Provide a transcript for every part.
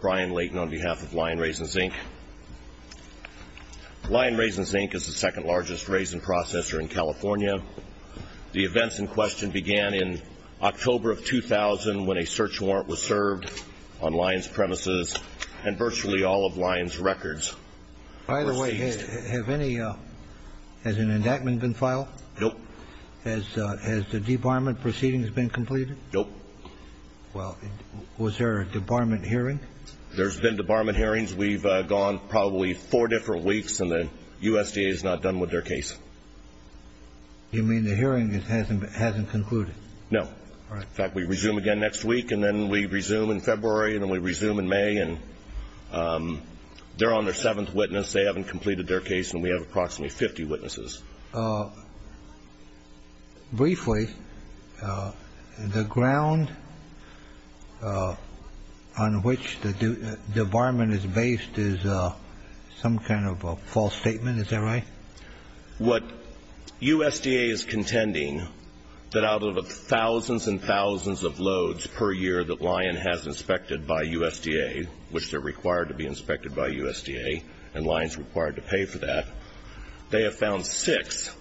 Brian Layton on behalf of Lion Raisins Inc. Lion Raisins Inc. is the second largest raisin processor in California. The events in question began in October of 2000 when a search warrant was served on Lion's premises and virtually all of Lion's records were seized. By the way, has an enactment been filed? Nope. Has the debarment proceedings been completed? Nope. Well, was there a debarment hearing? There's been debarment hearings. We've gone probably four different weeks and the USDA is not done with their case. You mean the hearing hasn't concluded? No. In fact, we resume again next week and then we resume in February and then we resume in May and they're on their seventh witness. They haven't completed their case and we have approximately 50 witnesses. Briefly, the ground on which the debarment is based is some kind of a false statement. Is that right? What USDA is contending that out of the thousands and thousands of loads per year that Lion has inspected by USDA, which they're required to be inspected by USDA and Lion's required to pay for that, they have found six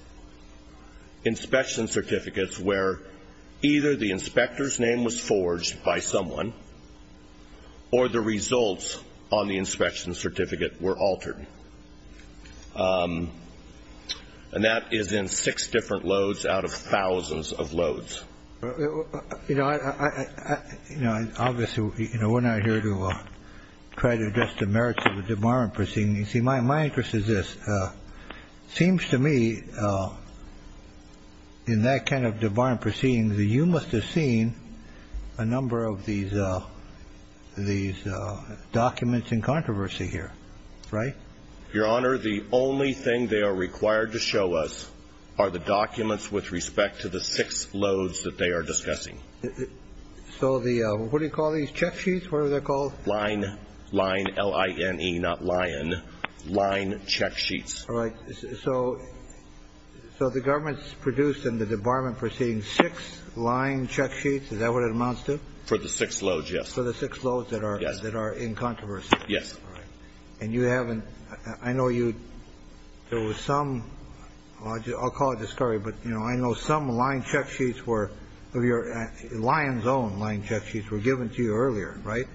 inspection certificates where either the inspector's And that is in six different loads out of thousands of loads. Obviously, we're not here to try to address the merits of a debarment proceeding. You see, my interest is this. It seems to me in that kind of debarment proceeding that you must have seen a number of these documents in controversy here, right? Your Honor, the only thing they are required to show us are the documents with respect to the six loads that they are discussing. So what do you call these? Check sheets? What are they called? Lion. L-I-N-E, not Lion. Line check sheets. So the government's produced in the debarment proceeding six line check sheets. Is that what it amounts to? For the six loads, yes. For the six loads that are in controversy? Yes. And you haven't, I know you, there was some, I'll call it discovery, but you know, I know some line check sheets were, Lion's own line check sheets were given to you earlier, right?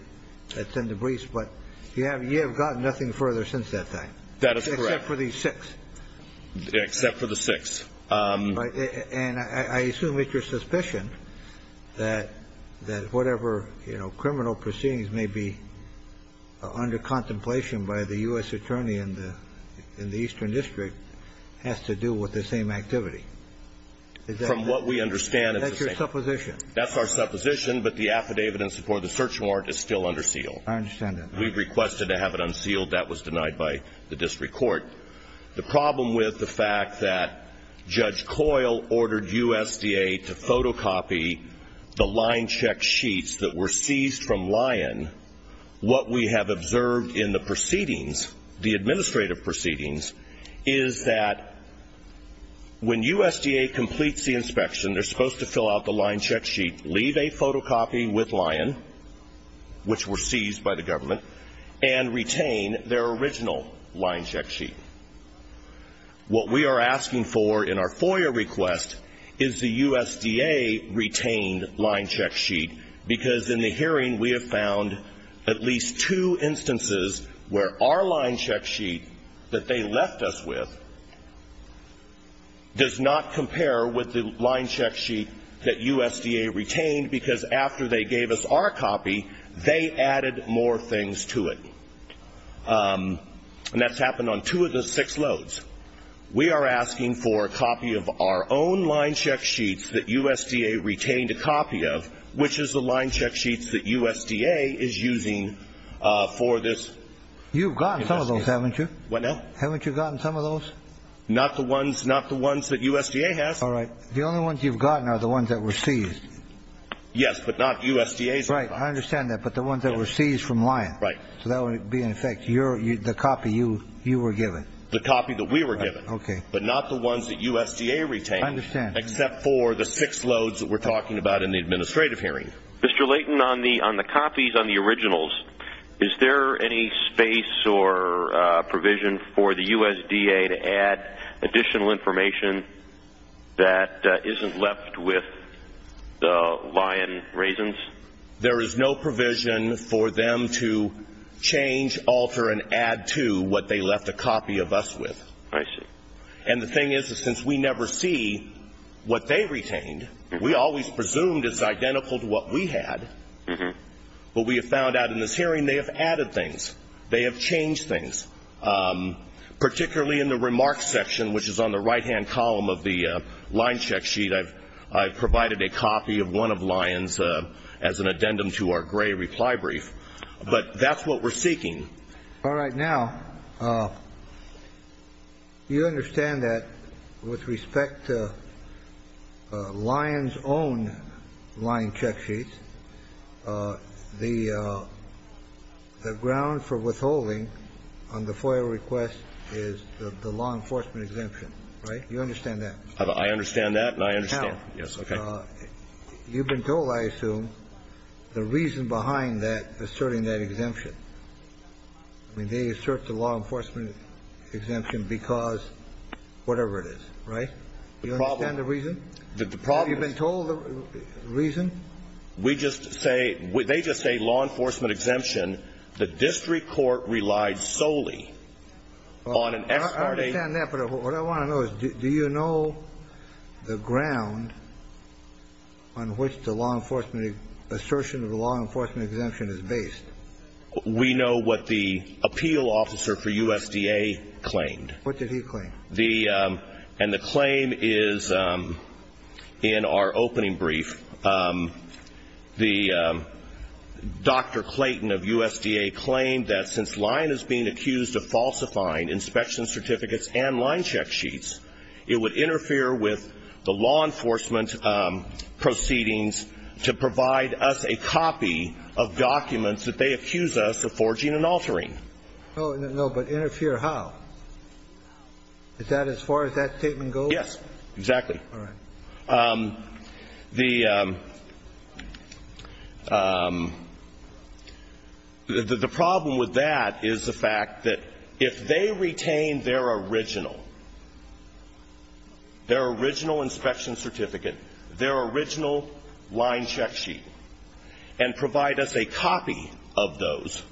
That's in the briefs, but you have gotten nothing further since that time. That is correct. Except for these six. Except for the six. And I assume it's your suspicion that whatever, you know, criminal proceedings may be under contemplation by the U.S. attorney in the Eastern District has to do with the same activity. From what we understand. That's your supposition. That's our supposition, but the affidavit in support of the search warrant is still under seal. I understand that. We requested to have it unsealed. That was denied by the district court. The problem with the fact that Judge Coyle ordered USDA to photocopy the line check sheets that were observed in the proceedings, the administrative proceedings, is that when USDA completes the inspection, they're supposed to fill out the line check sheet, leave a photocopy with Lion, which were seized by the government, and retain their original line check sheet. What we are asking for in our FOIA request is the USDA retained line check sheet because in the hearing we have found at least two instances where our line check sheet that they left us with does not compare with the line check sheet that USDA retained because after they gave us our copy, they added more things to it. And that's happened on two of the six loads. We are asking for a copy of our own line check sheets that USDA retained a copy of, which is the line check sheets that USDA is using for this investigation. You've gotten some of those, haven't you? What now? Haven't you gotten some of those? Not the ones that USDA has. All right. The only ones you've gotten are the ones that were seized. Yes, but not USDA's. Right. I understand that. But the ones that were seized from Lion. Right. So that would be in effect the copy you were given. The copy that we were given. Okay. But not the ones that USDA retained. I understand. Except for the six loads that we're talking about in the administrative hearing. Mr. Layton, on the copies, on the originals, is there any space or provision for the USDA to add additional information that isn't left with the Lion raisins? There is no provision for them to change, alter, and add to what they left a copy of us with. I see. And the thing is, is since we never see what they retained, we always presumed it's identical to what we had, but we have found out in this hearing they have added things. They have changed things, particularly in the remarks section, which is on the right-hand column of the line check sheet, I've provided a copy of one of Lion's as an addendum to our gray reply brief. But that's what we're seeking. All right. Now, you understand that with respect to Lion's own line check sheets, the ground for withholding on the FOIA request is the law enforcement exemption, right? You understand that? I understand that, and I understand. Yes. Okay. Well, you've been told, I assume, the reason behind that, asserting that exemption. I mean, they assert the law enforcement exemption because whatever it is, right? Do you understand the reason? The problem is... Have you been told the reason? We just say, they just say law enforcement exemption, the district court relied solely on an ex parte... On which the law enforcement, assertion of the law enforcement exemption is based. We know what the appeal officer for USDA claimed. What did he claim? The, and the claim is in our opening brief, the Dr. Clayton of USDA claimed that since Lion is being accused of falsifying inspection certificates and line check sheets, it would interfere with the law enforcement proceedings to provide us a copy of documents that they accuse us of forging and altering. Oh, no, but interfere how? Is that as far as that statement goes? Yes, exactly. All right. The, the problem with that is the fact that if they retain their original, their original inspection certificate, their original line check sheet, and provide us a copy of those,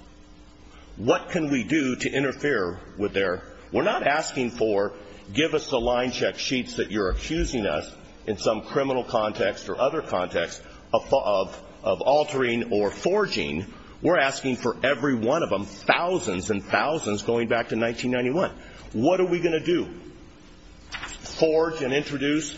what can we do to interfere with their... We're not asking for, give us the line check sheets that you're accusing us in some criminal context or other context of, of, of altering or forging. We're asking for every one of them, thousands and thousands going back to 1991. What are we going to do? Forge and introduce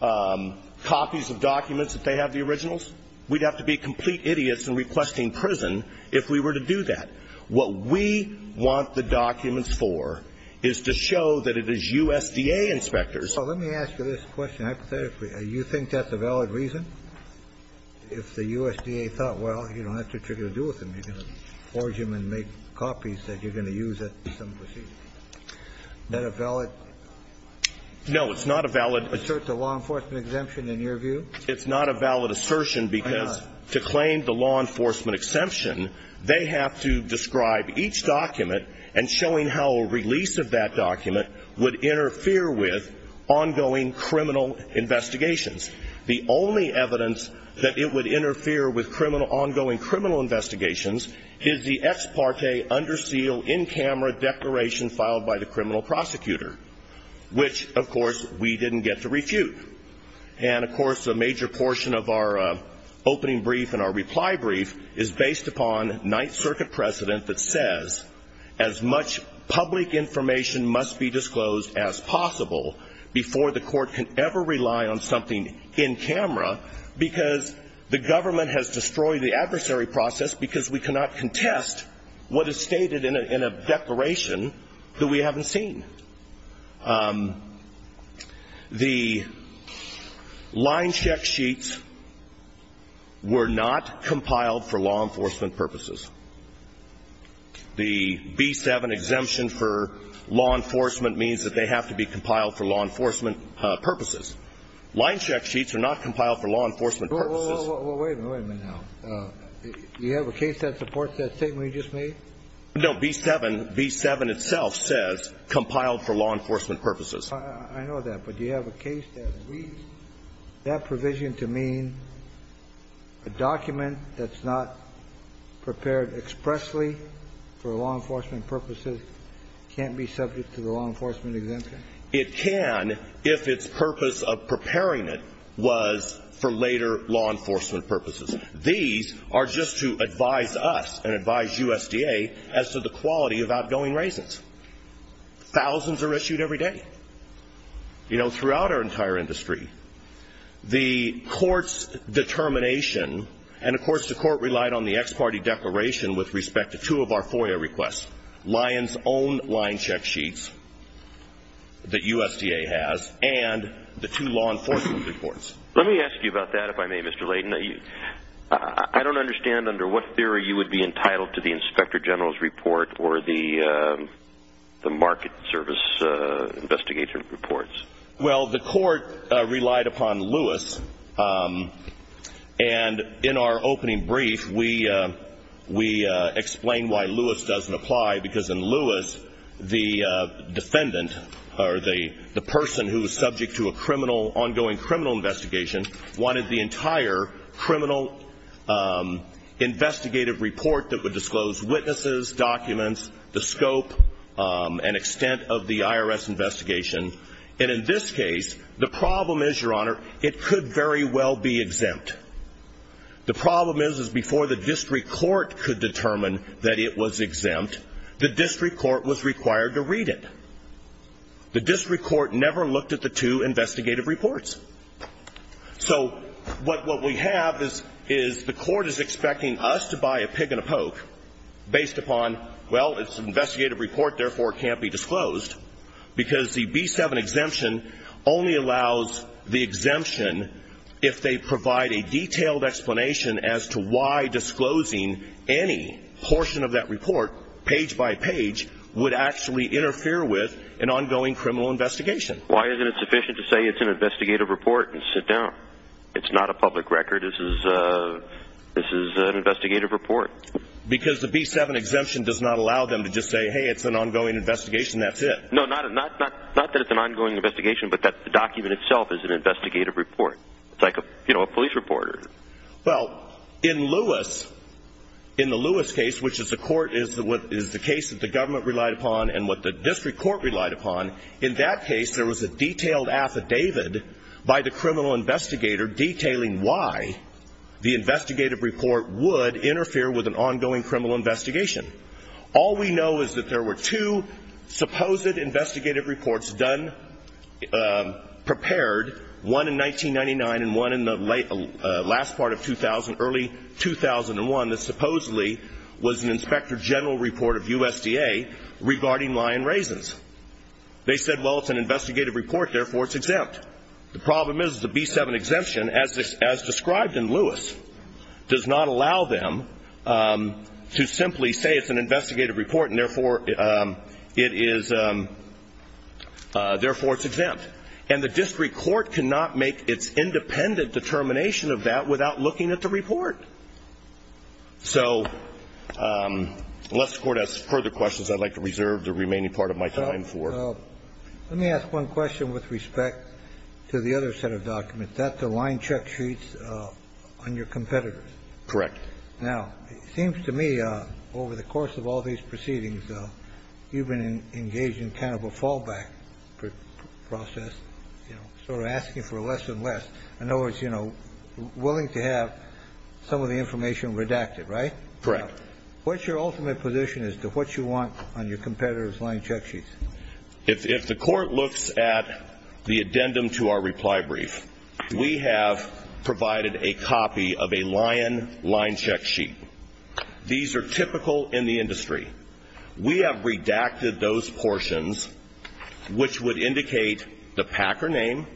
copies of documents that they have the originals? We'd have to be complete idiots in requesting prison if we were to do that. What we want the documents for is to show that it is USDA inspectors... So let me ask you this question hypothetically. You think that's a valid reason? If the USDA thought, well, you don't have too much to do with them, you're going to forge them and make copies that you're going to use at some procedure. Is that a valid... No, it's not a valid... Assert the law enforcement exemption in your view? It's not a valid assertion because to claim the law enforcement exemption, they have to describe each document and showing how a release of that document would interfere with ongoing criminal investigations. The only evidence that it would interfere with criminal, ongoing criminal investigations is the ex parte, under seal, in camera declaration filed by the criminal prosecutor, which, of course, we didn't get to refute. And of course, a major portion of our opening brief and our reply brief is based upon Ninth Circuit precedent that says as much public information must be disclosed as possible before the court can ever rely on something in camera because the government has destroyed the adversary process because we cannot contest what is stated in a declaration that we haven't seen. The line check sheets were not compiled for law enforcement purposes. The B-7 exemption for law enforcement means that they have to be compiled for law enforcement purposes. Line check sheets are not compiled for law enforcement purposes. Wait a minute now. Do you have a case that supports that statement you just made? No, B-7 itself says compiled for law enforcement purposes. I know that, but do you have a case that reads that provision to mean a document that's not prepared expressly for law enforcement purposes can't be subject to the law enforcement exemption? It can if its purpose of preparing it was for later law enforcement purposes. These are just to advise us and advise USDA as to the quality of outgoing raisins. Thousands are issued every day, you know, throughout our entire industry. The court's determination, and of course, the court relied on the ex parte declaration with respect to two of our FOIA requests, Lion's own line check sheets that USDA has and the two law enforcement reports. Let me ask you about that, if I may, Mr. Layden. I don't understand under what theory you would be entitled to the inspector general's report or the market service investigator reports. Well, the court relied upon Lewis, and in our opening brief, we explain why Lewis doesn't apply because in Lewis, the defendant or the person who is subject to an ongoing criminal investigation wanted the entire criminal investigative report that would disclose witnesses, documents, the scope and extent of the IRS investigation, and in this case, the problem is, Your Honor, it could very well be exempt. The problem is before the district court could determine that it was exempt, the district court was required to read it. The district court never looked at the two investigative reports. So what we have is the court is expecting us to buy a pig and a poke based upon, well, it's an investigative report, therefore it can't be disclosed because the B-7 exemption only allows the exemption if they provide a detailed explanation as to why disclosing any portion of that report, page by page, would actually interfere with an ongoing criminal investigation. Why isn't it sufficient to say it's an investigative report and sit down? It's not a public record, this is an investigative report. Because the B-7 exemption does not allow them to just say, hey, it's an ongoing investigation, that's it. No, not that it's an ongoing investigation, but that the document itself is an investigative report. It's like a police report. Well, in Lewis, in the Lewis case, which is the court, is the case that the government relied upon and what the district court relied upon, in that case, there was a detailed affidavit by the criminal investigator detailing why the investigative report would interfere with an ongoing criminal investigation. All we know is that there were two supposed investigative reports done, prepared, one in 1999 and one in the last part of 2000, early 2001, that supposedly was an inspector general report of USDA regarding lion raisins. They said, well, it's an investigative report, therefore it's exempt. The problem is the B-7 exemption, as described in Lewis, does not allow them to simply say it's an investigative report and therefore it's exempt. And the district court cannot make its independent determination of that without looking at the report. So unless the court has further questions, I'd like to reserve the remaining part of my time for... Let me ask one question with respect to the other set of documents. That's the line check sheets on your competitors. Correct. Now, it seems to me, over the course of all these proceedings, you've been engaged in kind of a fallback process, you know, sort of asking for less and less, in other words, you know, willing to have some of the information redacted, right? Correct. What's your ultimate position as to what you want on your competitors' line check sheets? If the court looks at the addendum to our reply brief, we have provided a copy of a lion line check sheet. These are typical in the industry. We have redacted those portions which would indicate the packer name,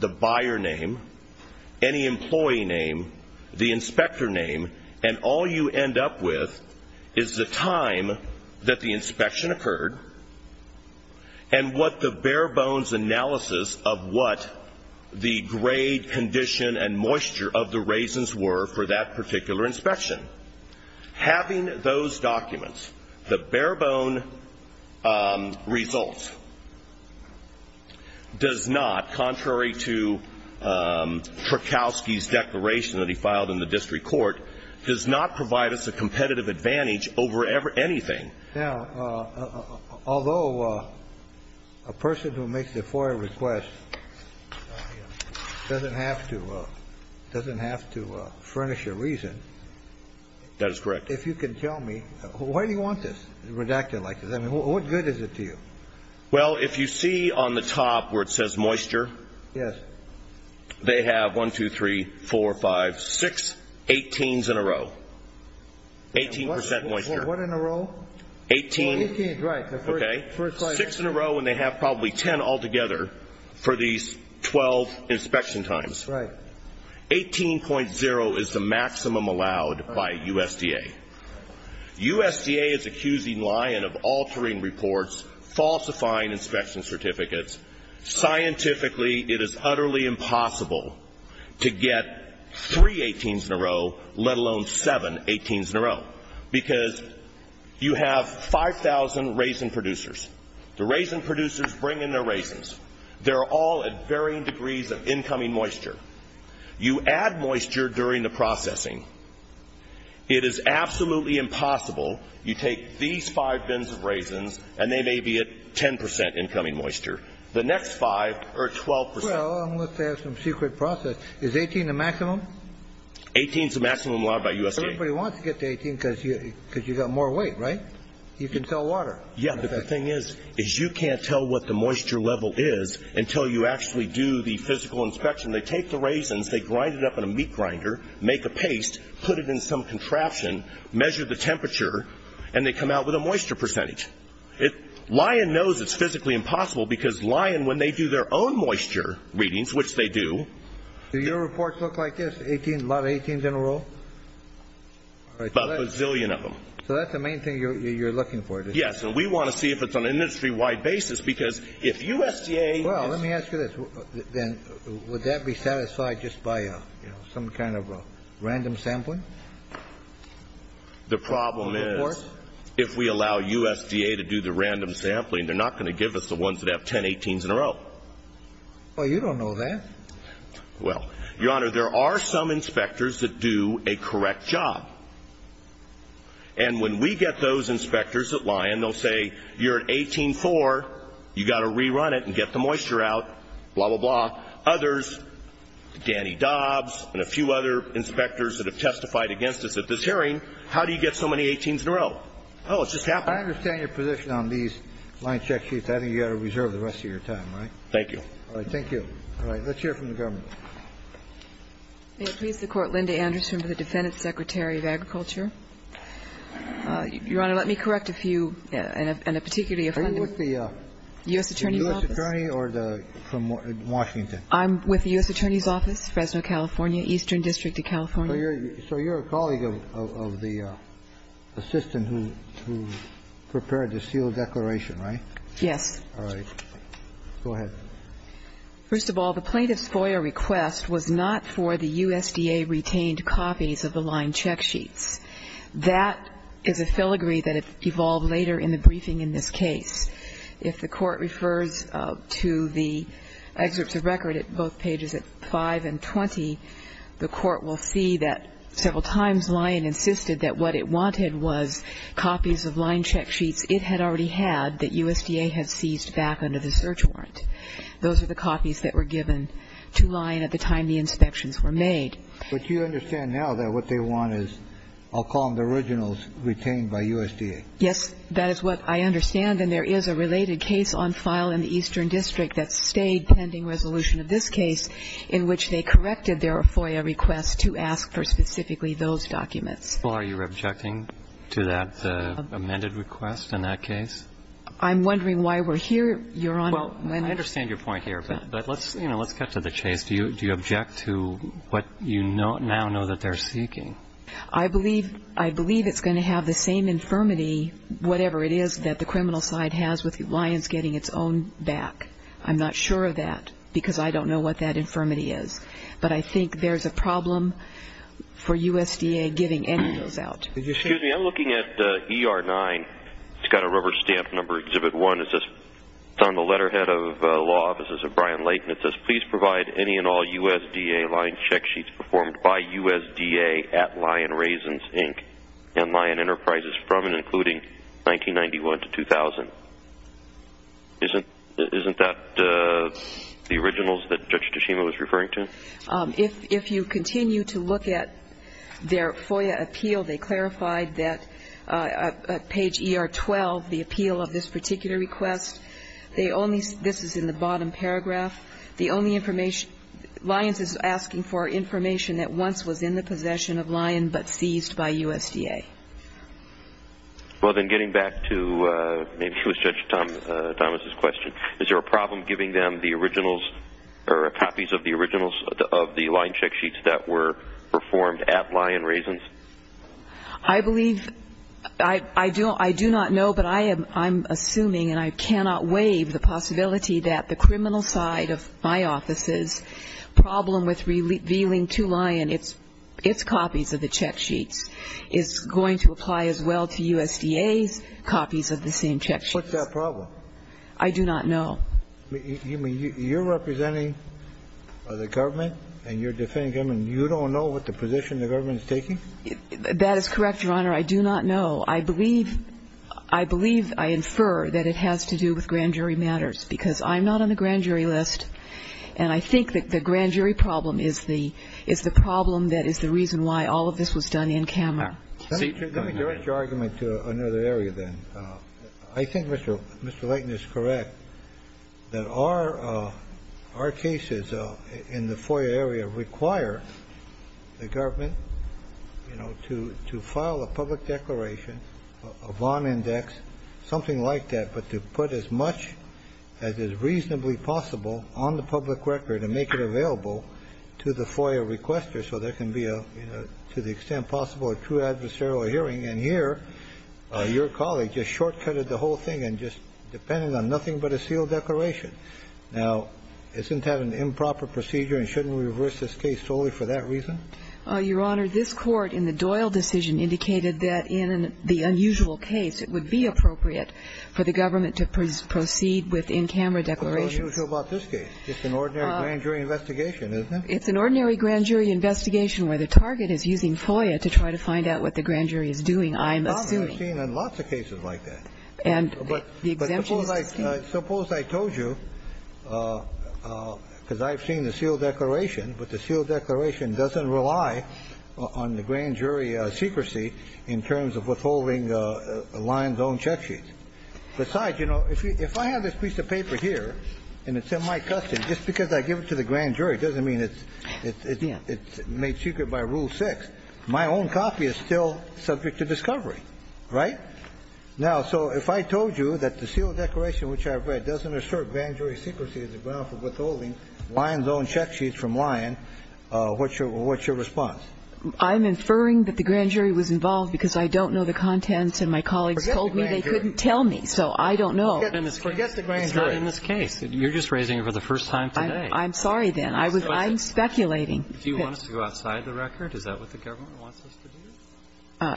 the buyer name, any employee name, the inspector name, and all you end up with is the time that the inspection occurred and what the bare-bones analysis of what the grade, condition, and moisture of the raisins were for that particular inspection. Having those documents, the bare-bone results, does not, contrary to what we have in the Prokowski's declaration that he filed in the district court, does not provide us a competitive advantage over anything. Now, although a person who makes the FOIA request doesn't have to furnish a reason. That is correct. If you can tell me, why do you want this redacted like this? I mean, what good is it to you? Well, if you see on the top where it says moisture. Yes. They have 1, 2, 3, 4, 5, 6, 18s in a row. 18% moisture. What in a row? 18. 18, right. Okay. Six in a row and they have probably 10 altogether for these 12 inspection times. Right. 18.0 is the maximum allowed by USDA. USDA is accusing Lion of altering reports, falsifying inspection certificates. Scientifically, it is utterly impossible to get three 18s in a row, let alone seven 18s in a row, because you have 5,000 raisin producers. The raisin producers bring in their raisins. They're all at varying degrees of incoming moisture. You add moisture during the processing. It is absolutely impossible. You take these five bins of raisins and they may be at 10% incoming moisture. The next five are at 12%. Well, unless they have some secret process. Is 18 the maximum? 18 is the maximum allowed by USDA. Everybody wants to get to 18 because you got more weight, right? You can tell water. Yeah, but the thing is, is you can't tell what the moisture level is until you actually do the physical inspection. They take the raisins, they grind it up in a meat grinder, make a paste, put it in some contraption, measure the temperature, and they come out with a moisture percentage. Lyon knows it's physically impossible because Lyon, when they do their own moisture readings, which they do. Do your reports look like this, a lot of 18s in a row? About a bazillion of them. So that's the main thing you're looking for, is it? Yes, and we want to see if it's on an industry-wide basis because if USDA is. Let me ask you this. Then would that be satisfied just by some kind of random sampling? The problem is if we allow USDA to do the random sampling, they're not going to give us the ones that have 10 18s in a row. Well, you don't know that. Well, Your Honor, there are some inspectors that do a correct job. And when we get those inspectors at Lyon, they'll say you're at 18-4, you've got to rerun it and get the moisture out, blah, blah, blah. Others, Danny Dobbs and a few other inspectors that have testified against us at this hearing, how do you get so many 18s in a row? Oh, it's just happened. I understand your position on these Lyon check sheets. I think you've got to reserve the rest of your time, right? Thank you. All right. Thank you. All right. Let's hear from the government. May it please the Court. Linda Anderson for the Defendant Secretary of Agriculture. Your Honor, let me correct a few, and a particularly offending. Are you with the U.S. Attorney's Office? U.S. Attorney or from Washington? I'm with the U.S. Attorney's Office, Fresno, California, Eastern District of California. So you're a colleague of the assistant who prepared the seal declaration, right? Yes. All right. Go ahead. First of all, the plaintiff's FOIA request was not for the USDA retained copies of the Lyon check sheets. That is a filigree that evolved later in the briefing in this case. If the Court refers to the excerpts of record at both pages 5 and 20, the Court will see that several times Lyon insisted that what it wanted was copies of Lyon check sheets it had already had that USDA had seized back under the search warrant. Those are the copies that were given to Lyon at the time the inspections were made. But you understand now that what they want is, I'll call them the originals retained by USDA? Yes, that is what I understand. And there is a related case on file in the Eastern District that stayed pending resolution of this case in which they corrected their FOIA request to ask for specifically those documents. Are you objecting to that amended request in that case? I'm wondering why we're here, Your Honor. Well, I understand your point here, but let's cut to the chase. Do you object to what you now know that they're seeking? I believe it's going to have the same infirmity, whatever it is, that the criminal side has with Lyon's getting its own back. I'm not sure of that because I don't know what that infirmity is. But I think there's a problem for USDA giving any of those out. Excuse me, I'm looking at ER-9. It's got a rubber stamp number Exhibit 1. It's on the letterhead of Law Offices of Brian Layton. It says, Please provide any and all USDA Lyon check sheets performed by USDA at Lyon Raisins, Inc. and Lyon Enterprises from and including 1991 to 2000. Isn't that the originals that Judge Tashima was referring to? If you continue to look at their FOIA appeal, they clarified that at page ER-12, the appeal of this particular request, this is in the bottom paragraph, Lyon's is asking for information that once was in the possession of Lyon but seized by USDA. Well, then getting back to maybe it was Judge Thomas's question, is there a problem giving them the originals or copies of the originals of the Lyon check sheets that were performed at Lyon Raisins? I believe I do not know, but I am assuming and I cannot waive the possibility that the criminal side of my office's problem with revealing to Lyon its copies of the check sheets is going to apply as well to USDA's copies of the same check sheets. What's that problem? I do not know. You're representing the government and you're defending the government and you don't know what the position the government is taking? That is correct, Your Honor. I do not know. I believe I infer that it has to do with grand jury matters, because I'm not on the grand jury list and I think that the grand jury problem is the problem that is the reason why all of this was done in camera. Let me direct your argument to another area then. I think Mr. Layton is correct that our cases in the FOIA area require the government to file a public declaration, a bond index, something like that, but to put as much as is reasonably possible on the public record and make it available to the FOIA requester so there can be, to the extent possible, a true adversarial hearing. And here, your colleague just short-cutted the whole thing and just depended on nothing but a sealed declaration. Now, isn't that an improper procedure and shouldn't we reverse this case solely for that reason? Your Honor, this Court in the Doyle decision indicated that in the unusual case, it would be appropriate for the government to proceed with in-camera declarations. What's unusual about this case? It's an ordinary grand jury investigation, isn't it? It's an ordinary grand jury investigation where the target is using FOIA to try to find out what the grand jury is doing, I'm assuming. I've seen lots of cases like that. And the exemption is the same. But suppose I told you, because I've seen the sealed declaration, but the sealed declaration doesn't rely on the grand jury secrecy in terms of withholding the lion's own check sheets. Besides, you know, if I have this piece of paper here and it's in my custody, just because I give it to the grand jury doesn't mean it's made secret by Rule 6. My own copy is still subject to discovery, right? Now, so if I told you that the sealed declaration which I've read doesn't assert grand jury secrecy as a ground for withholding lion's own check sheets from lion, what's your response? I'm inferring that the grand jury was involved because I don't know the contents and my colleagues told me they couldn't tell me, so I don't know. Forget the grand jury. It's not in this case. You're just raising it for the first time today. I'm sorry, then. I'm speculating. Do you want us to go outside the record? Is that what the government wants us to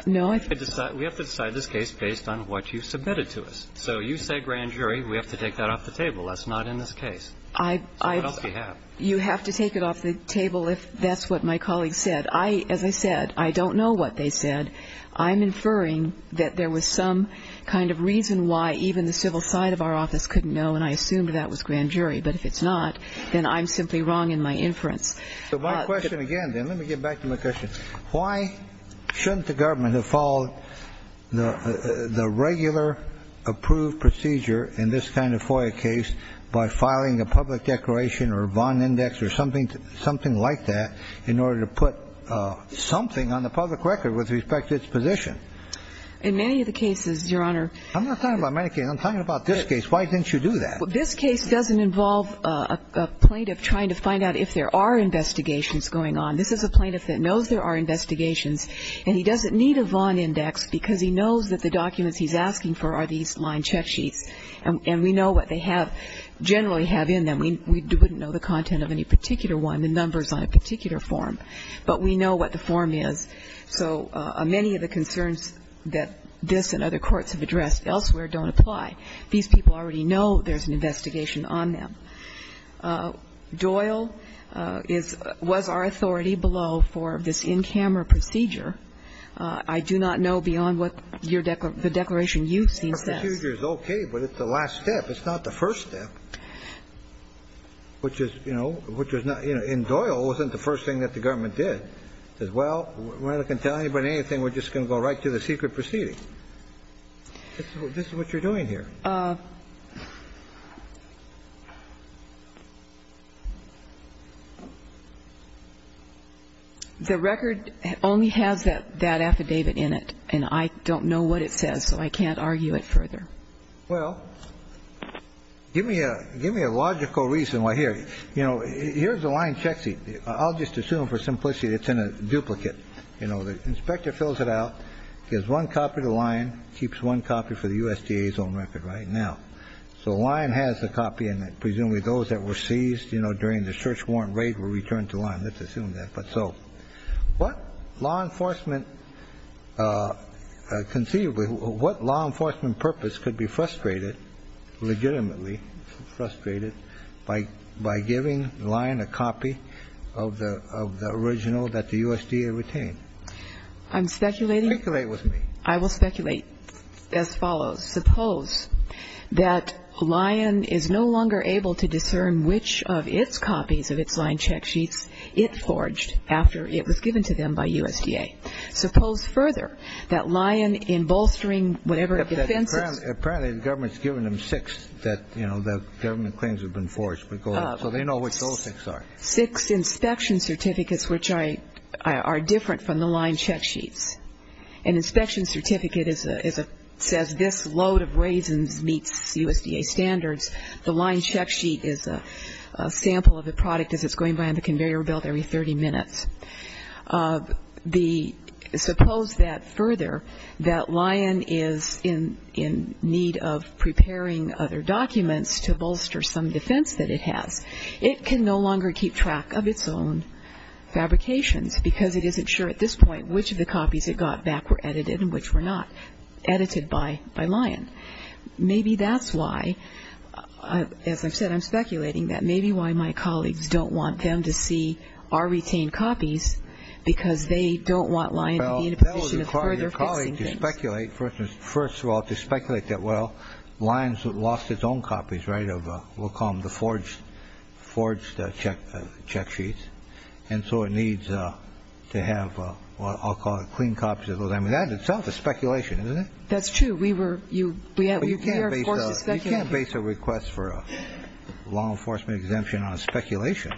do? No. We have to decide this case based on what you submitted to us. So you say grand jury. We have to take that off the table. That's not in this case. So what else do you have? You have to take it off the table if that's what my colleagues said. I, as I said, I don't know what they said. I'm inferring that there was some kind of reason why even the civil side of our office couldn't know, and I assumed that was grand jury. But if it's not, then I'm simply wrong in my inference. My question again, then, let me get back to my question. Why shouldn't the government have followed the regular approved procedure in this kind of FOIA case by filing a public declaration or bond index or something like that in order to put something on the public record with respect to its position? In many of the cases, Your Honor. I'm not talking about many cases. I'm talking about this case. Why didn't you do that? Well, this case doesn't involve a plaintiff trying to find out if there are investigations going on. This is a plaintiff that knows there are investigations, and he doesn't need a bond index because he knows that the documents he's asking for are these line check sheets. And we know what they have, generally have in them. We wouldn't know the content of any particular one, the numbers on a particular form, but we know what the form is. So many of the concerns that this and other courts have addressed elsewhere don't apply. These people already know there's an investigation on them. Doyle was our authority below for this in-camera procedure. I do not know beyond what the declaration you've seen says. Our procedure is okay, but it's the last step. It's not the first step, which is, you know, which is not you know. And Doyle wasn't the first thing that the government did. It says, well, we're not going to tell anybody anything. We're just going to go right to the secret proceeding. This is what you're doing here. The record only has that affidavit in it, and I don't know what it says, so I can't argue it further. Well, give me a logical reason why here. You know, here's the line check sheet. I'll just assume for simplicity it's in a duplicate. You know, the inspector fills it out, gives one copy to the line, keeps one copy for the USDA's own record. That's what we're doing right now. So the line has a copy in it. Presumably those that were seized, you know, during the search warrant raid were returned to line. Let's assume that. But so what law enforcement conceivably, what law enforcement purpose could be frustrated, legitimately frustrated, by giving the line a copy of the original that the USDA retained? I'm speculating. Speculate with me. I will speculate as follows. Suppose that Lion is no longer able to discern which of its copies of its line check sheets it forged after it was given to them by USDA. Suppose further that Lion, in bolstering whatever defense it's... Apparently the government's given them six that, you know, the government claims have been forged. So they know which those six are. Six inspection certificates which are different from the line check sheets. An inspection certificate says this load of raisins meets USDA standards. The line check sheet is a sample of the product as it's going by on the conveyor belt every 30 minutes. Suppose that further that Lion is in need of preparing other documents to bolster some defense that it has. It can no longer keep track of its own fabrications because it isn't sure at this point which of the copies it got back were edited and which were not edited by Lion. Maybe that's why, as I've said, I'm speculating, that maybe why my colleagues don't want them to see our retained copies because they don't want Lion to be in a position of further fixing things. Well, that would require your colleague to speculate. First of all, to speculate that, well, Lion's lost its own copies, right, of we'll call them the forged check sheets. And so it needs to have what I'll call clean copies of those. I mean, that in itself is speculation, isn't it? That's true. We were you. You can't base a request for a law enforcement exemption on speculation.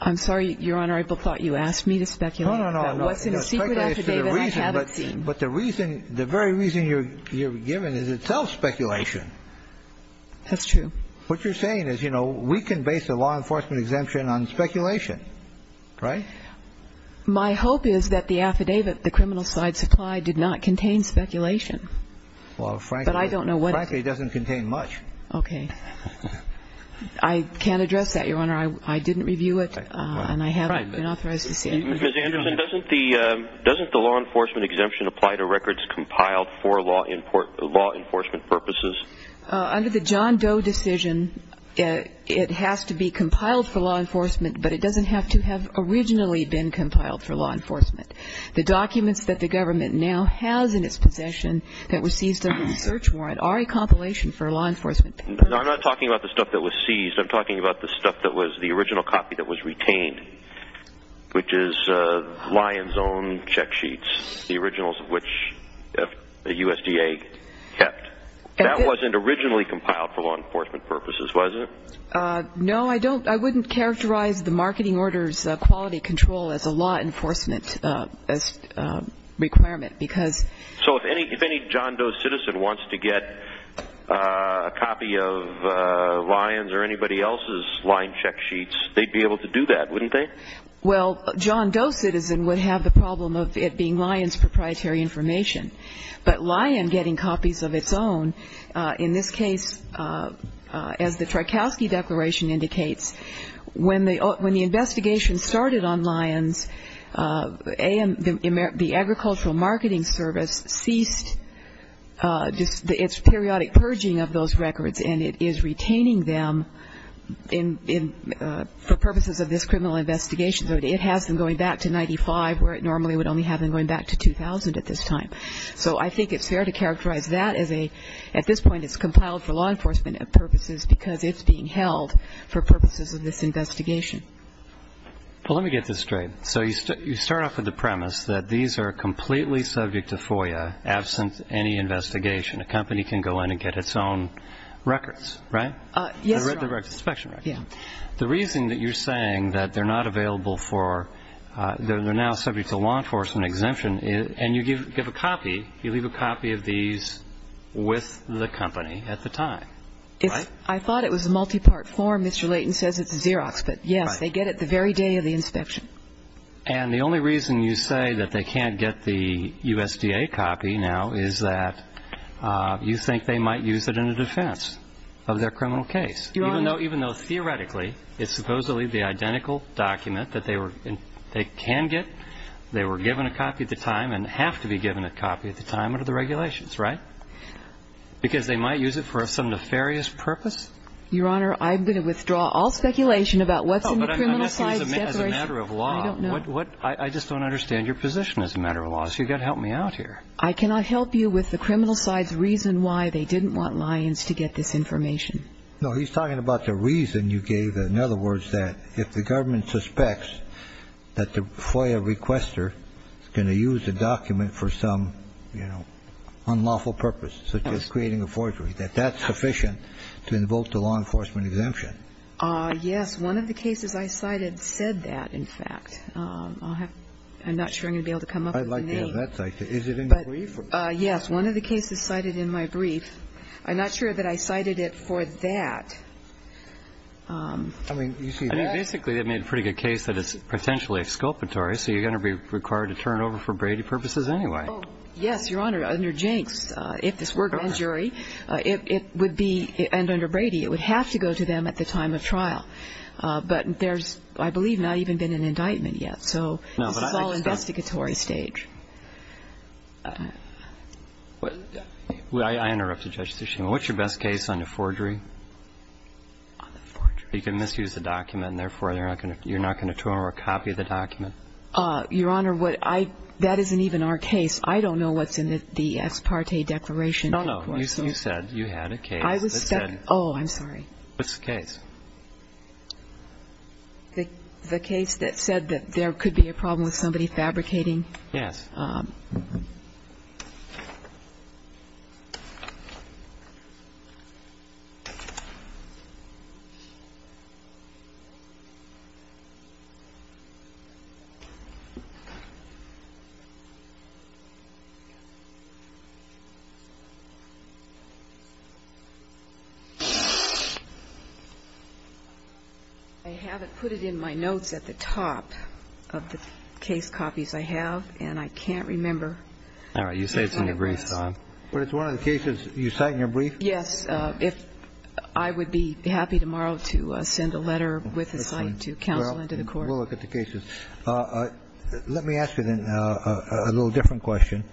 I'm sorry, Your Honor, I thought you asked me to speculate. No, no, no. What's in a secret affidavit I haven't seen. But the reason, the very reason you're given is itself speculation. That's true. What you're saying is, you know, we can base a law enforcement exemption on speculation, right? My hope is that the affidavit, the criminal side supply, did not contain speculation. Well, frankly, it doesn't contain much. Okay. I can't address that, Your Honor. I didn't review it and I haven't been authorized to say anything. Ms. Anderson, doesn't the law enforcement exemption apply to records compiled for law enforcement purposes? Under the John Doe decision, it has to be compiled for law enforcement, but it doesn't have to have originally been compiled for law enforcement. The documents that the government now has in its possession that were seized under the search warrant are a compilation for law enforcement purposes. No, I'm not talking about the stuff that was seized. I'm talking about the stuff that was the original copy that was retained, which is Lyon's own check sheets, the originals of which the USDA kept. That wasn't originally compiled for law enforcement purposes, was it? No, I don't. I wouldn't characterize the marketing order's quality control as a law enforcement requirement, because... So if any John Doe citizen wants to get a copy of Lyon's or anybody else's Lyon check sheets, they'd be able to do that, wouldn't they? Well, a John Doe citizen would have the problem of it being Lyon's proprietary information, but Lyon getting copies of its own, in this case, as the Tchaikovsky Declaration indicates, when the investigation started on Lyon's, the Agricultural Marketing Service ceased its periodic purging of those records and it is retaining them for purposes of this criminal investigation. So it has them going back to 95, where it normally would only have them going back to 2,000 at this time. So I think it's fair to characterize that as a, at this point, it's compiled for law enforcement purposes because it's being held for purposes of this investigation. Well, let me get this straight. So you start off with the premise that these are completely subject to FOIA, absent any investigation. A company can go in and get its own records, right? Yes, Your Honor. The inspection records. Yes. The reason that you're saying that they're not available for, they're now subject to law enforcement exemption, and you give a copy, you leave a copy of these with the company at the time, right? I thought it was a multi-part form. Mr. Layton says it's a Xerox, but yes, they get it the very day of the inspection. And the only reason you say that they can't get the USDA copy now is that you think they might use it in a defense of their criminal case. Even though, theoretically, it's supposedly the identical document that they can get, they were given a copy at the time and have to be given a copy at the time under the regulations, right? Because they might use it for some nefarious purpose? Your Honor, I'm going to withdraw all speculation about what's in the criminal side's declaration. I just don't understand your position as a matter of law, so you've got to help me out here. I cannot help you with the criminal side's reason why they didn't want Lyons to get this information. No, he's talking about the reason you gave. In other words, that if the government suspects that the FOIA requester is going to use a document for some, you know, unlawful purpose, such as creating a forgery, that that's sufficient to invoke the law enforcement exemption. Yes. One of the cases I cited said that, in fact. I'm not sure I'm going to be able to come up with a name. I'd like to have that cited. Is it in the brief? Yes. One of the cases cited in my brief. I'm not sure that I cited it for that. I mean, you see, that's. I think basically they made a pretty good case that it's potentially exculpatory, so you're going to be required to turn it over for Brady purposes anyway. Oh, yes, Your Honor. Under Jenks, if this were a grand jury, it would be, and under Brady, it would have to go to them at the time of trial. But there's, I believe, not even been an indictment yet, so it's all investigatory stage. Well, I interrupted Judge Tishman. What's your best case on the forgery? On the forgery. You can misuse the document, and therefore, you're not going to turn over a copy of the document. Your Honor, what I, that isn't even our case. I don't know what's in the Esparte Declaration. No, no. You said you had a case that said. I was stuck. Oh, I'm sorry. What's the case? The case that said that there could be a problem with somebody fabricating. Yes. I have it, put it in my notes at the top of the case copies I have, and I can't, I can't remember what it says on the document. I can't remember. All right, you say it's in your brief, Don. But it's one of the cases you cite in your brief? Yes, if I would be happy tomorrow to send a letter with a cite to counsel and to the court. We'll look at the cases. Let me ask you then a little different question.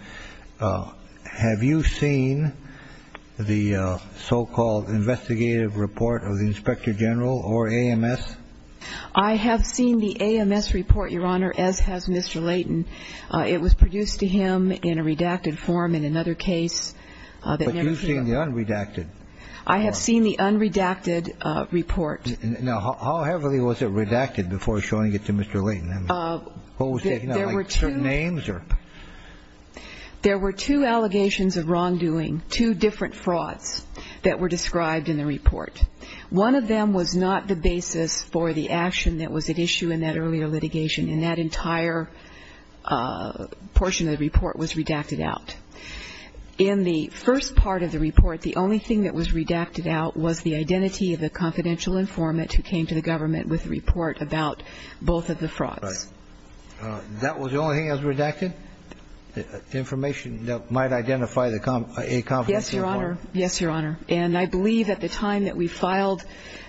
Have you seen the so-called investigative report of the inspector general or AMS? I have seen the AMS report, Your Honor, as has Mr. Layton. It was produced to him in a redacted form in another case. But you've seen the unredacted. I have seen the unredacted report. Now, how heavily was it redacted before showing it to Mr. Layton? What was taken out, like certain names or? There were two allegations of wrongdoing, two different frauds that were described in the report. One of them was not the basis for the action that was at issue in that earlier litigation, and that entire portion of the report was redacted out. In the first part of the report, the only thing that was redacted out was the identity of the confidential informant who came to the government with the report about both of the frauds. Right. That was the only thing that was redacted, the information that might identify a confidential informant? Yes, Your Honor. Yes, Your Honor. And I believe at the time that we filed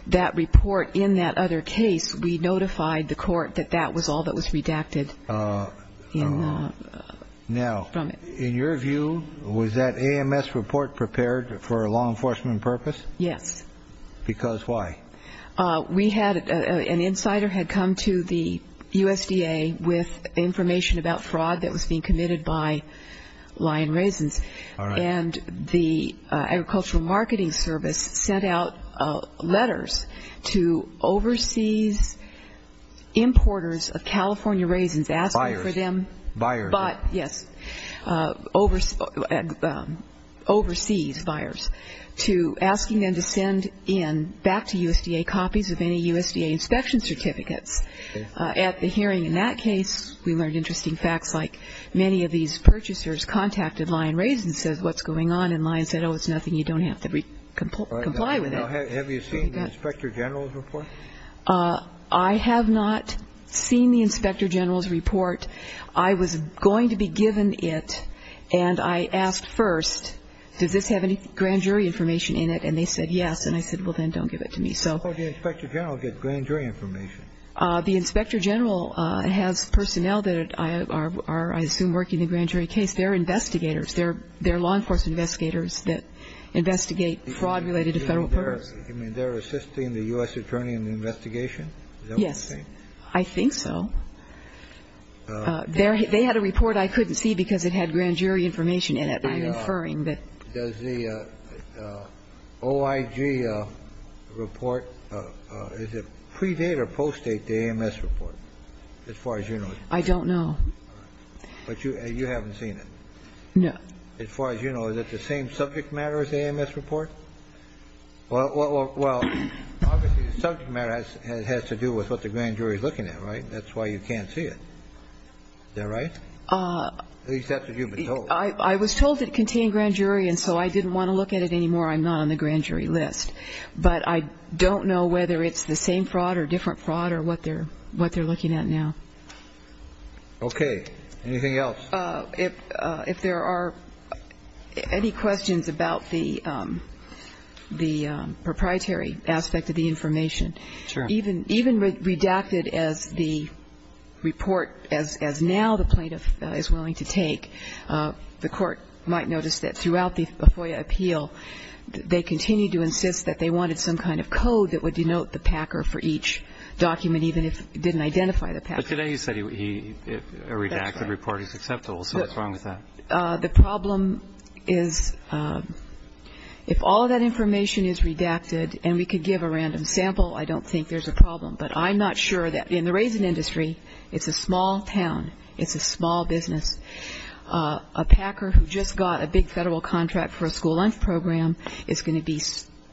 that report in that other case, we notified the court that that was all that was redacted from it. Now, in your view, was that AMS report prepared for a law enforcement purpose? Yes. Because why? We had an insider had come to the USDA with information about fraud that was being committed by Lion Raisins. All right. And the Agricultural Marketing Service sent out letters to overseas importers of California raisins asking for them. Buyers. Buyers. Yes. Overseas buyers to asking them to send in back to USDA copies of any USDA inspection certificates. Okay. At the hearing in that case, we learned interesting facts like many of these purchasers contacted Lion Raisins and said, what's going on? And Lion said, oh, it's nothing. You don't have to comply with it. Have you seen the Inspector General's report? I have not seen the Inspector General's report. I was going to be given it, and I asked first, does this have any grand jury information in it? And they said yes. And I said, well, then don't give it to me. So. How did the Inspector General get grand jury information? The Inspector General has personnel that are, I assume, working the grand jury case. They're investigators. They're law enforcement investigators that investigate fraud related to federal purse. You mean they're assisting the U.S. attorney in the investigation? Yes. I think so. They had a report I couldn't see because it had grand jury information in it. Does the OIG report, is it pre-date or post-date the AMS report as far as you know? I don't know. But you haven't seen it? No. As far as you know, is it the same subject matter as the AMS report? Well, obviously the subject matter has to do with what the grand jury is looking at, right? That's why you can't see it. Is that right? At least that's what you've been told. I was told it contained grand jury, and so I didn't want to look at it anymore. I'm not on the grand jury list. But I don't know whether it's the same fraud or different fraud or what they're looking at now. Okay. Anything else? If there are any questions about the proprietary aspect of the information. Sure. Even redacted as the report, as now the plaintiff is willing to take, the court might notice that throughout the FOIA appeal, they continued to insist that they wanted some kind of code that would denote the packer for each document, even if it didn't identify the packer. But today you said a redacted report is acceptable. So what's wrong with that? The problem is if all of that information is redacted and we could give a random sample, I don't think there's a problem. But I'm not sure. In the raisin industry, it's a small town. It's a small business. A packer who just got a big federal contract for a school lunch program is going to be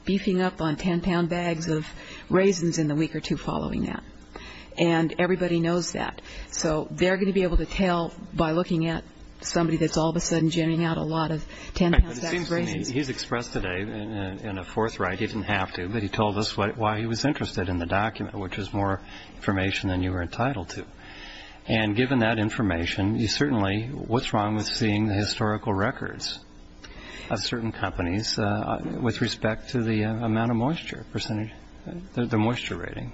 beefing up on 10-pound bags of raisins in the week or two following that. And everybody knows that. So they're going to be able to tell by looking at somebody that's all of a sudden jamming out a lot of 10-pound bags of raisins. But it seems to me he's expressed today in a forthright, he didn't have to, but he told us why he was interested in the document, which is more information than you were entitled to. And given that information, certainly what's wrong with seeing the historical records of certain companies with respect to the amount of moisture percentage, the moisture rating?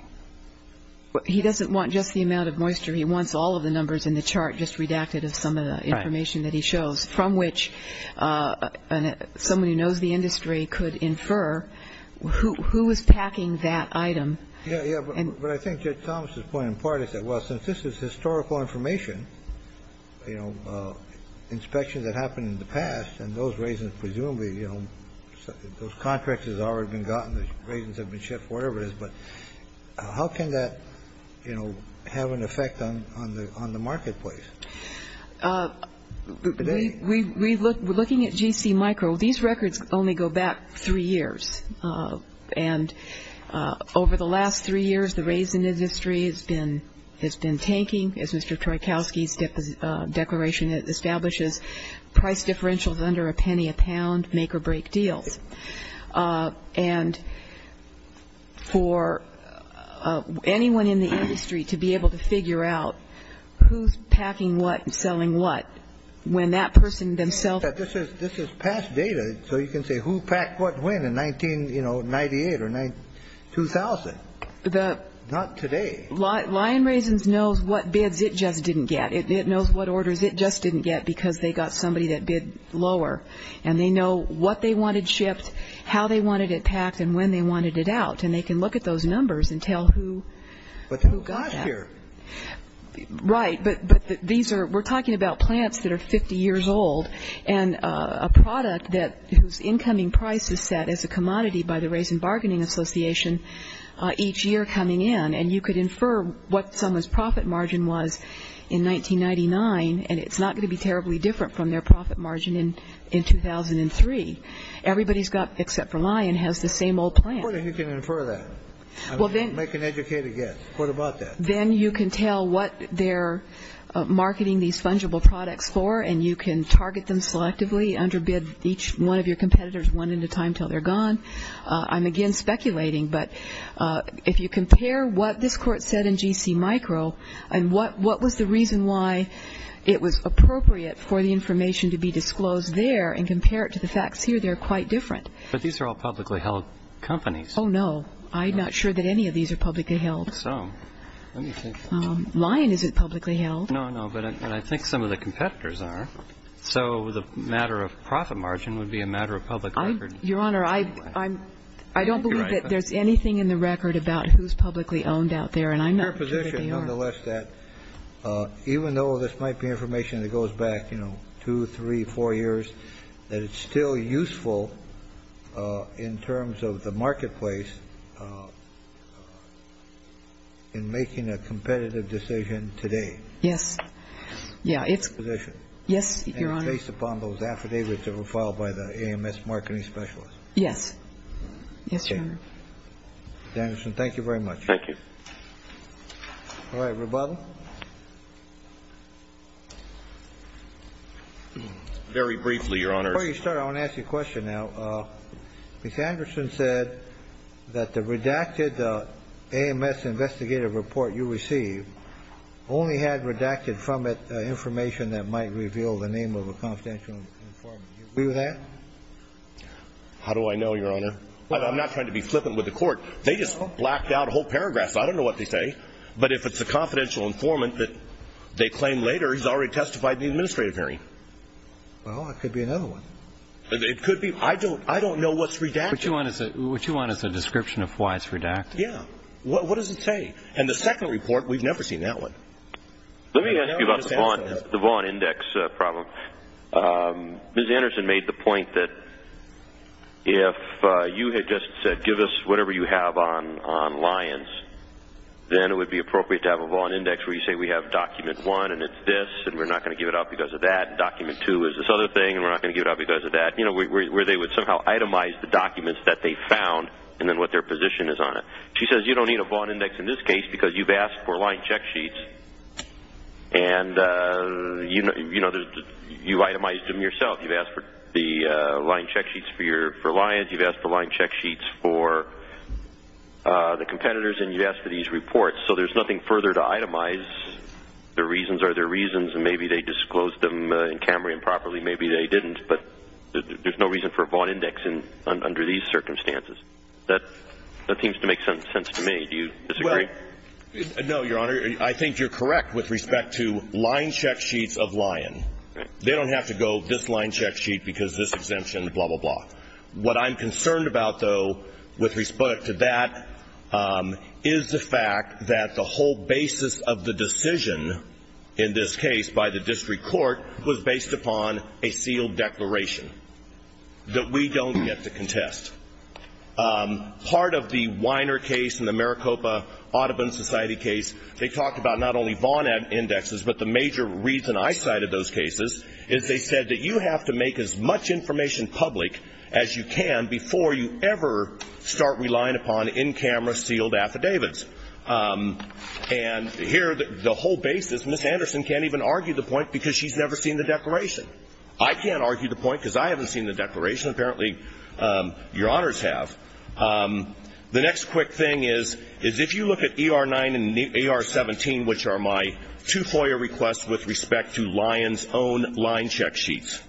He doesn't want just the amount of moisture. He wants all of the numbers in the chart just redacted as some of the information that he shows from which somebody who knows the industry could infer who was packing that item. Yeah, yeah. But I think Judge Thomas's point in part is that, well, since this is historical information, inspections that happened in the past and those raisins presumably, those contracts have already been gotten, the raisins have been shipped, whatever it is. But how can that, you know, have an effect on the marketplace? We're looking at GC Micro. These records only go back three years. And over the last three years, the raisin industry has been tanking, as Mr. Troikowski's declaration establishes, price differentials under a penny a pound make or break deals. And for anyone in the industry to be able to figure out who's packing what and selling what, when that person themselves. This is past data, so you can say who packed what when in 1998 or 2000. Not today. Lion Raisins knows what bids it just didn't get. It knows what orders it just didn't get because they got somebody that bid lower. And they know what they wanted shipped, how they wanted it packed, and when they wanted it out. And they can look at those numbers and tell who got that. But who got here? Right. But these are, we're talking about plants that are 50 years old and a product whose incoming price is set as a commodity by the Raisin Bargaining Association each year coming in. And you could infer what someone's profit margin was in 1999, and it's not going to be terribly different from their profit margin in 2003. Everybody's got, except for Lion, has the same old plant. How do you infer that? Make an educated guess. What about that? Then you can tell what they're marketing these fungible products for, and you can target them selectively under bid each one of your competitors one at a time until they're gone. I'm, again, speculating. But if you compare what this Court said in G.C. Micro and what was the reason why it was appropriate for the information to be disclosed there and compare it to the facts here, they're quite different. But these are all publicly held companies. Oh, no. I'm not sure that any of these are publicly held. So let me think. Lion isn't publicly held. No, no. But I think some of the competitors are. So the matter of profit margin would be a matter of public record. Your Honor, I don't believe that there's anything in the record about who's publicly owned out there, and I'm not sure that they are. Your position, nonetheless, that even though this might be information that goes back, you know, two, three, four years, that it's still useful in terms of the marketplace in making a competitive decision today. Yes. Yeah. It's your position. Yes, Your Honor. Based upon those affidavits that were filed by the AMS marketing specialist. Yes. Yes, Your Honor. Ms. Anderson, thank you very much. Thank you. All right, rebuttal? Very briefly, Your Honor. Before you start, I want to ask you a question now. Ms. Anderson said that the redacted AMS investigative report you received only had redacted from it information that might reveal the name of a confidential informant. Do you agree with that? How do I know, Your Honor? I'm not trying to be flippant with the court. They just blacked out a whole paragraph, so I don't know what they say. But if it's a confidential informant that they claim later, he's already testified in the administrative hearing. Well, it could be another one. It could be. I don't know what's redacted. What you want is a description of why it's redacted. Yeah. What does it say? And the second report, we've never seen that one. Let me ask you about the Vaughan index problem. Ms. Anderson made the point that if you had just said, give us whatever you have on Lyons, then it would be appropriate to have a Vaughan index where you say we have document one, and it's this, and we're not going to give it out because of that, and document two is this other thing, and we're not going to give it out because of that, where they would somehow itemize the documents that they found and then what their position is on it. She says you don't need a Vaughan index in this case because you've asked for Lyons check sheets, and you've itemized them yourself. You've asked for the Lyons check sheets for Lyons. You've asked for Lyons check sheets for the competitors, and you've asked for these reports. So there's nothing further to itemize. The reasons are their reasons, and maybe they disclosed them in Cambrian properly. Maybe they didn't, but there's no reason for a Vaughan index under these circumstances. That seems to make sense to me. Do you disagree? Well, no, Your Honor. I think you're correct with respect to Lyons check sheets of Lyons. They don't have to go this Lyons check sheet because this exemption, blah, blah, blah. What I'm concerned about, though, with respect to that is the fact that the whole basis of the decision in this case by the district court was based upon a sealed declaration that we don't get to contest. Part of the Weiner case and the Maricopa Audubon Society case, they talked about not only Vaughan indexes, but the major reason I cited those cases is they said that you have to make as much information public as you can before you ever start relying upon in-camera sealed affidavits. And here the whole basis, Ms. Anderson can't even argue the point because she's never seen the declaration. I can't argue the point because I haven't seen the declaration. Apparently, Your Honors have. The next quick thing is if you look at ER-9 and ER-17, which are my two FOIA requests with respect to Lyons' own line check sheets,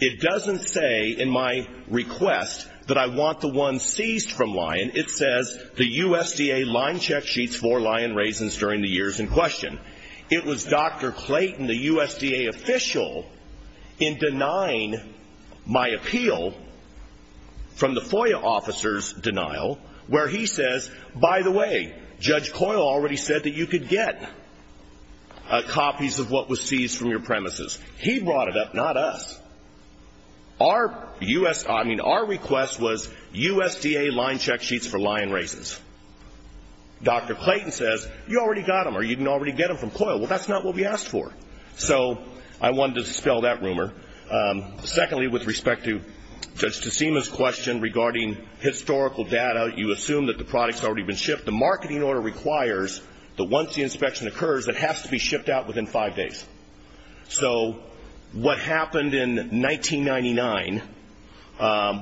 it doesn't say in my request that I want the ones seized from Lyons. It says the USDA line check sheets for Lyons raisins during the years in question. It was Dr. Clayton, the USDA official, in denying my appeal from the FOIA officer's denial where he says, by the way, Judge Coyle already said that you could get copies of what was seized from your premises. He brought it up, not us. Our request was USDA line check sheets for Lyons raisins. Dr. Clayton says, you already got them or you can already get them from Coyle. Well, that's not what we asked for. So I wanted to dispel that rumor. Secondly, with respect to Judge DeSema's question regarding historical data, you assume that the product's already been shipped. The marketing order requires that once the inspection occurs, it has to be shipped out within five days. So what happened in 1999,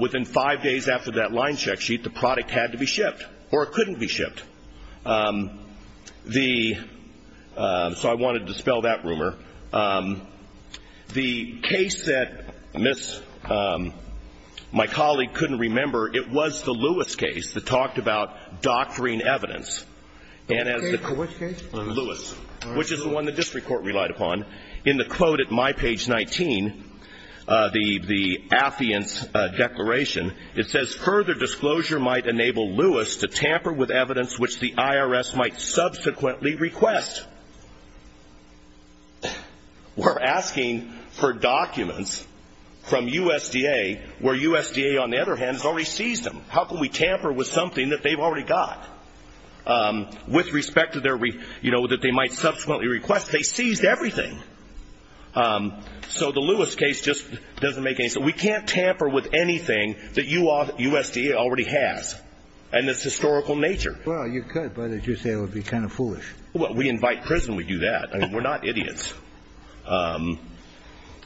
within five days after that line check sheet, the product had to be shipped or it couldn't be shipped. So I wanted to dispel that rumor. The case that my colleague couldn't remember, it was the Lewis case that talked about doctoring evidence. Which case? Lewis, which is the one the district court relied upon. In the quote at my page 19, the affiance declaration, it says, further disclosure might enable Lewis to tamper with evidence which the IRS might subsequently request. We're asking for documents from USDA where USDA, on the other hand, has already seized them. How can we tamper with something that they've already got? With respect to their, you know, that they might subsequently request, they seized everything. So the Lewis case just doesn't make any sense. We can't tamper with anything that USDA already has and its historical nature. Well, you could, but as you say, it would be kind of foolish. Well, we invite prison, we do that. I mean, we're not idiots.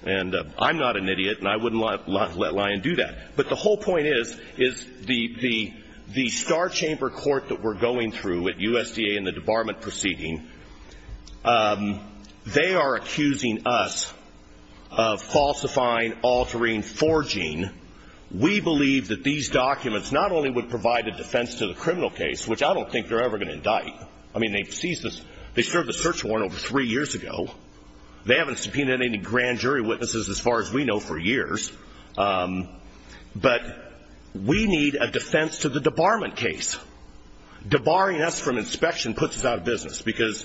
And I'm not an idiot and I wouldn't let Lyon do that. But the whole point is, is the star chamber court that we're going through at USDA in the debarment proceeding, they are accusing us of falsifying, altering, forging. We believe that these documents not only would provide a defense to the criminal case, which I don't think they're ever going to indict. I mean, they seized this, they served the search warrant over three years ago. They haven't subpoenaed any grand jury witnesses as far as we know for years. But we need a defense to the debarment case. Debarring us from inspection puts us out of business because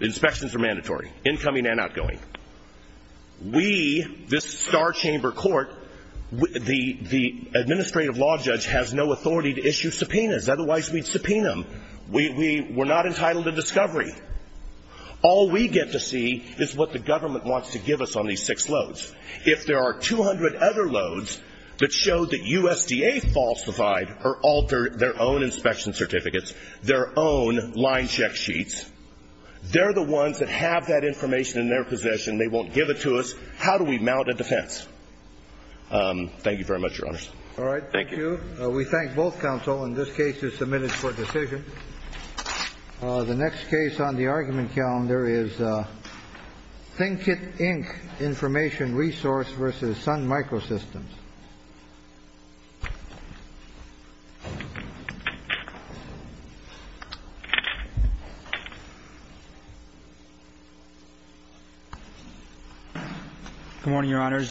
inspections are mandatory, incoming and outgoing. We, this star chamber court, the administrative law judge has no authority to issue subpoenas, otherwise we'd subpoena them. We're not entitled to discovery. All we get to see is what the government wants to give us on these six loads. If there are 200 other loads that show that USDA falsified or altered their own inspection certificates, their own line check sheets, they're the ones that have that information in their possession. They won't give it to us. How do we mount a defense? Thank you very much, Your Honors. All right. Thank you. We thank both counsel. And this case is submitted for decision. The next case on the argument calendar is Think It, Inc. Information Resource versus Sun Microsystems. Good morning, Your Honors.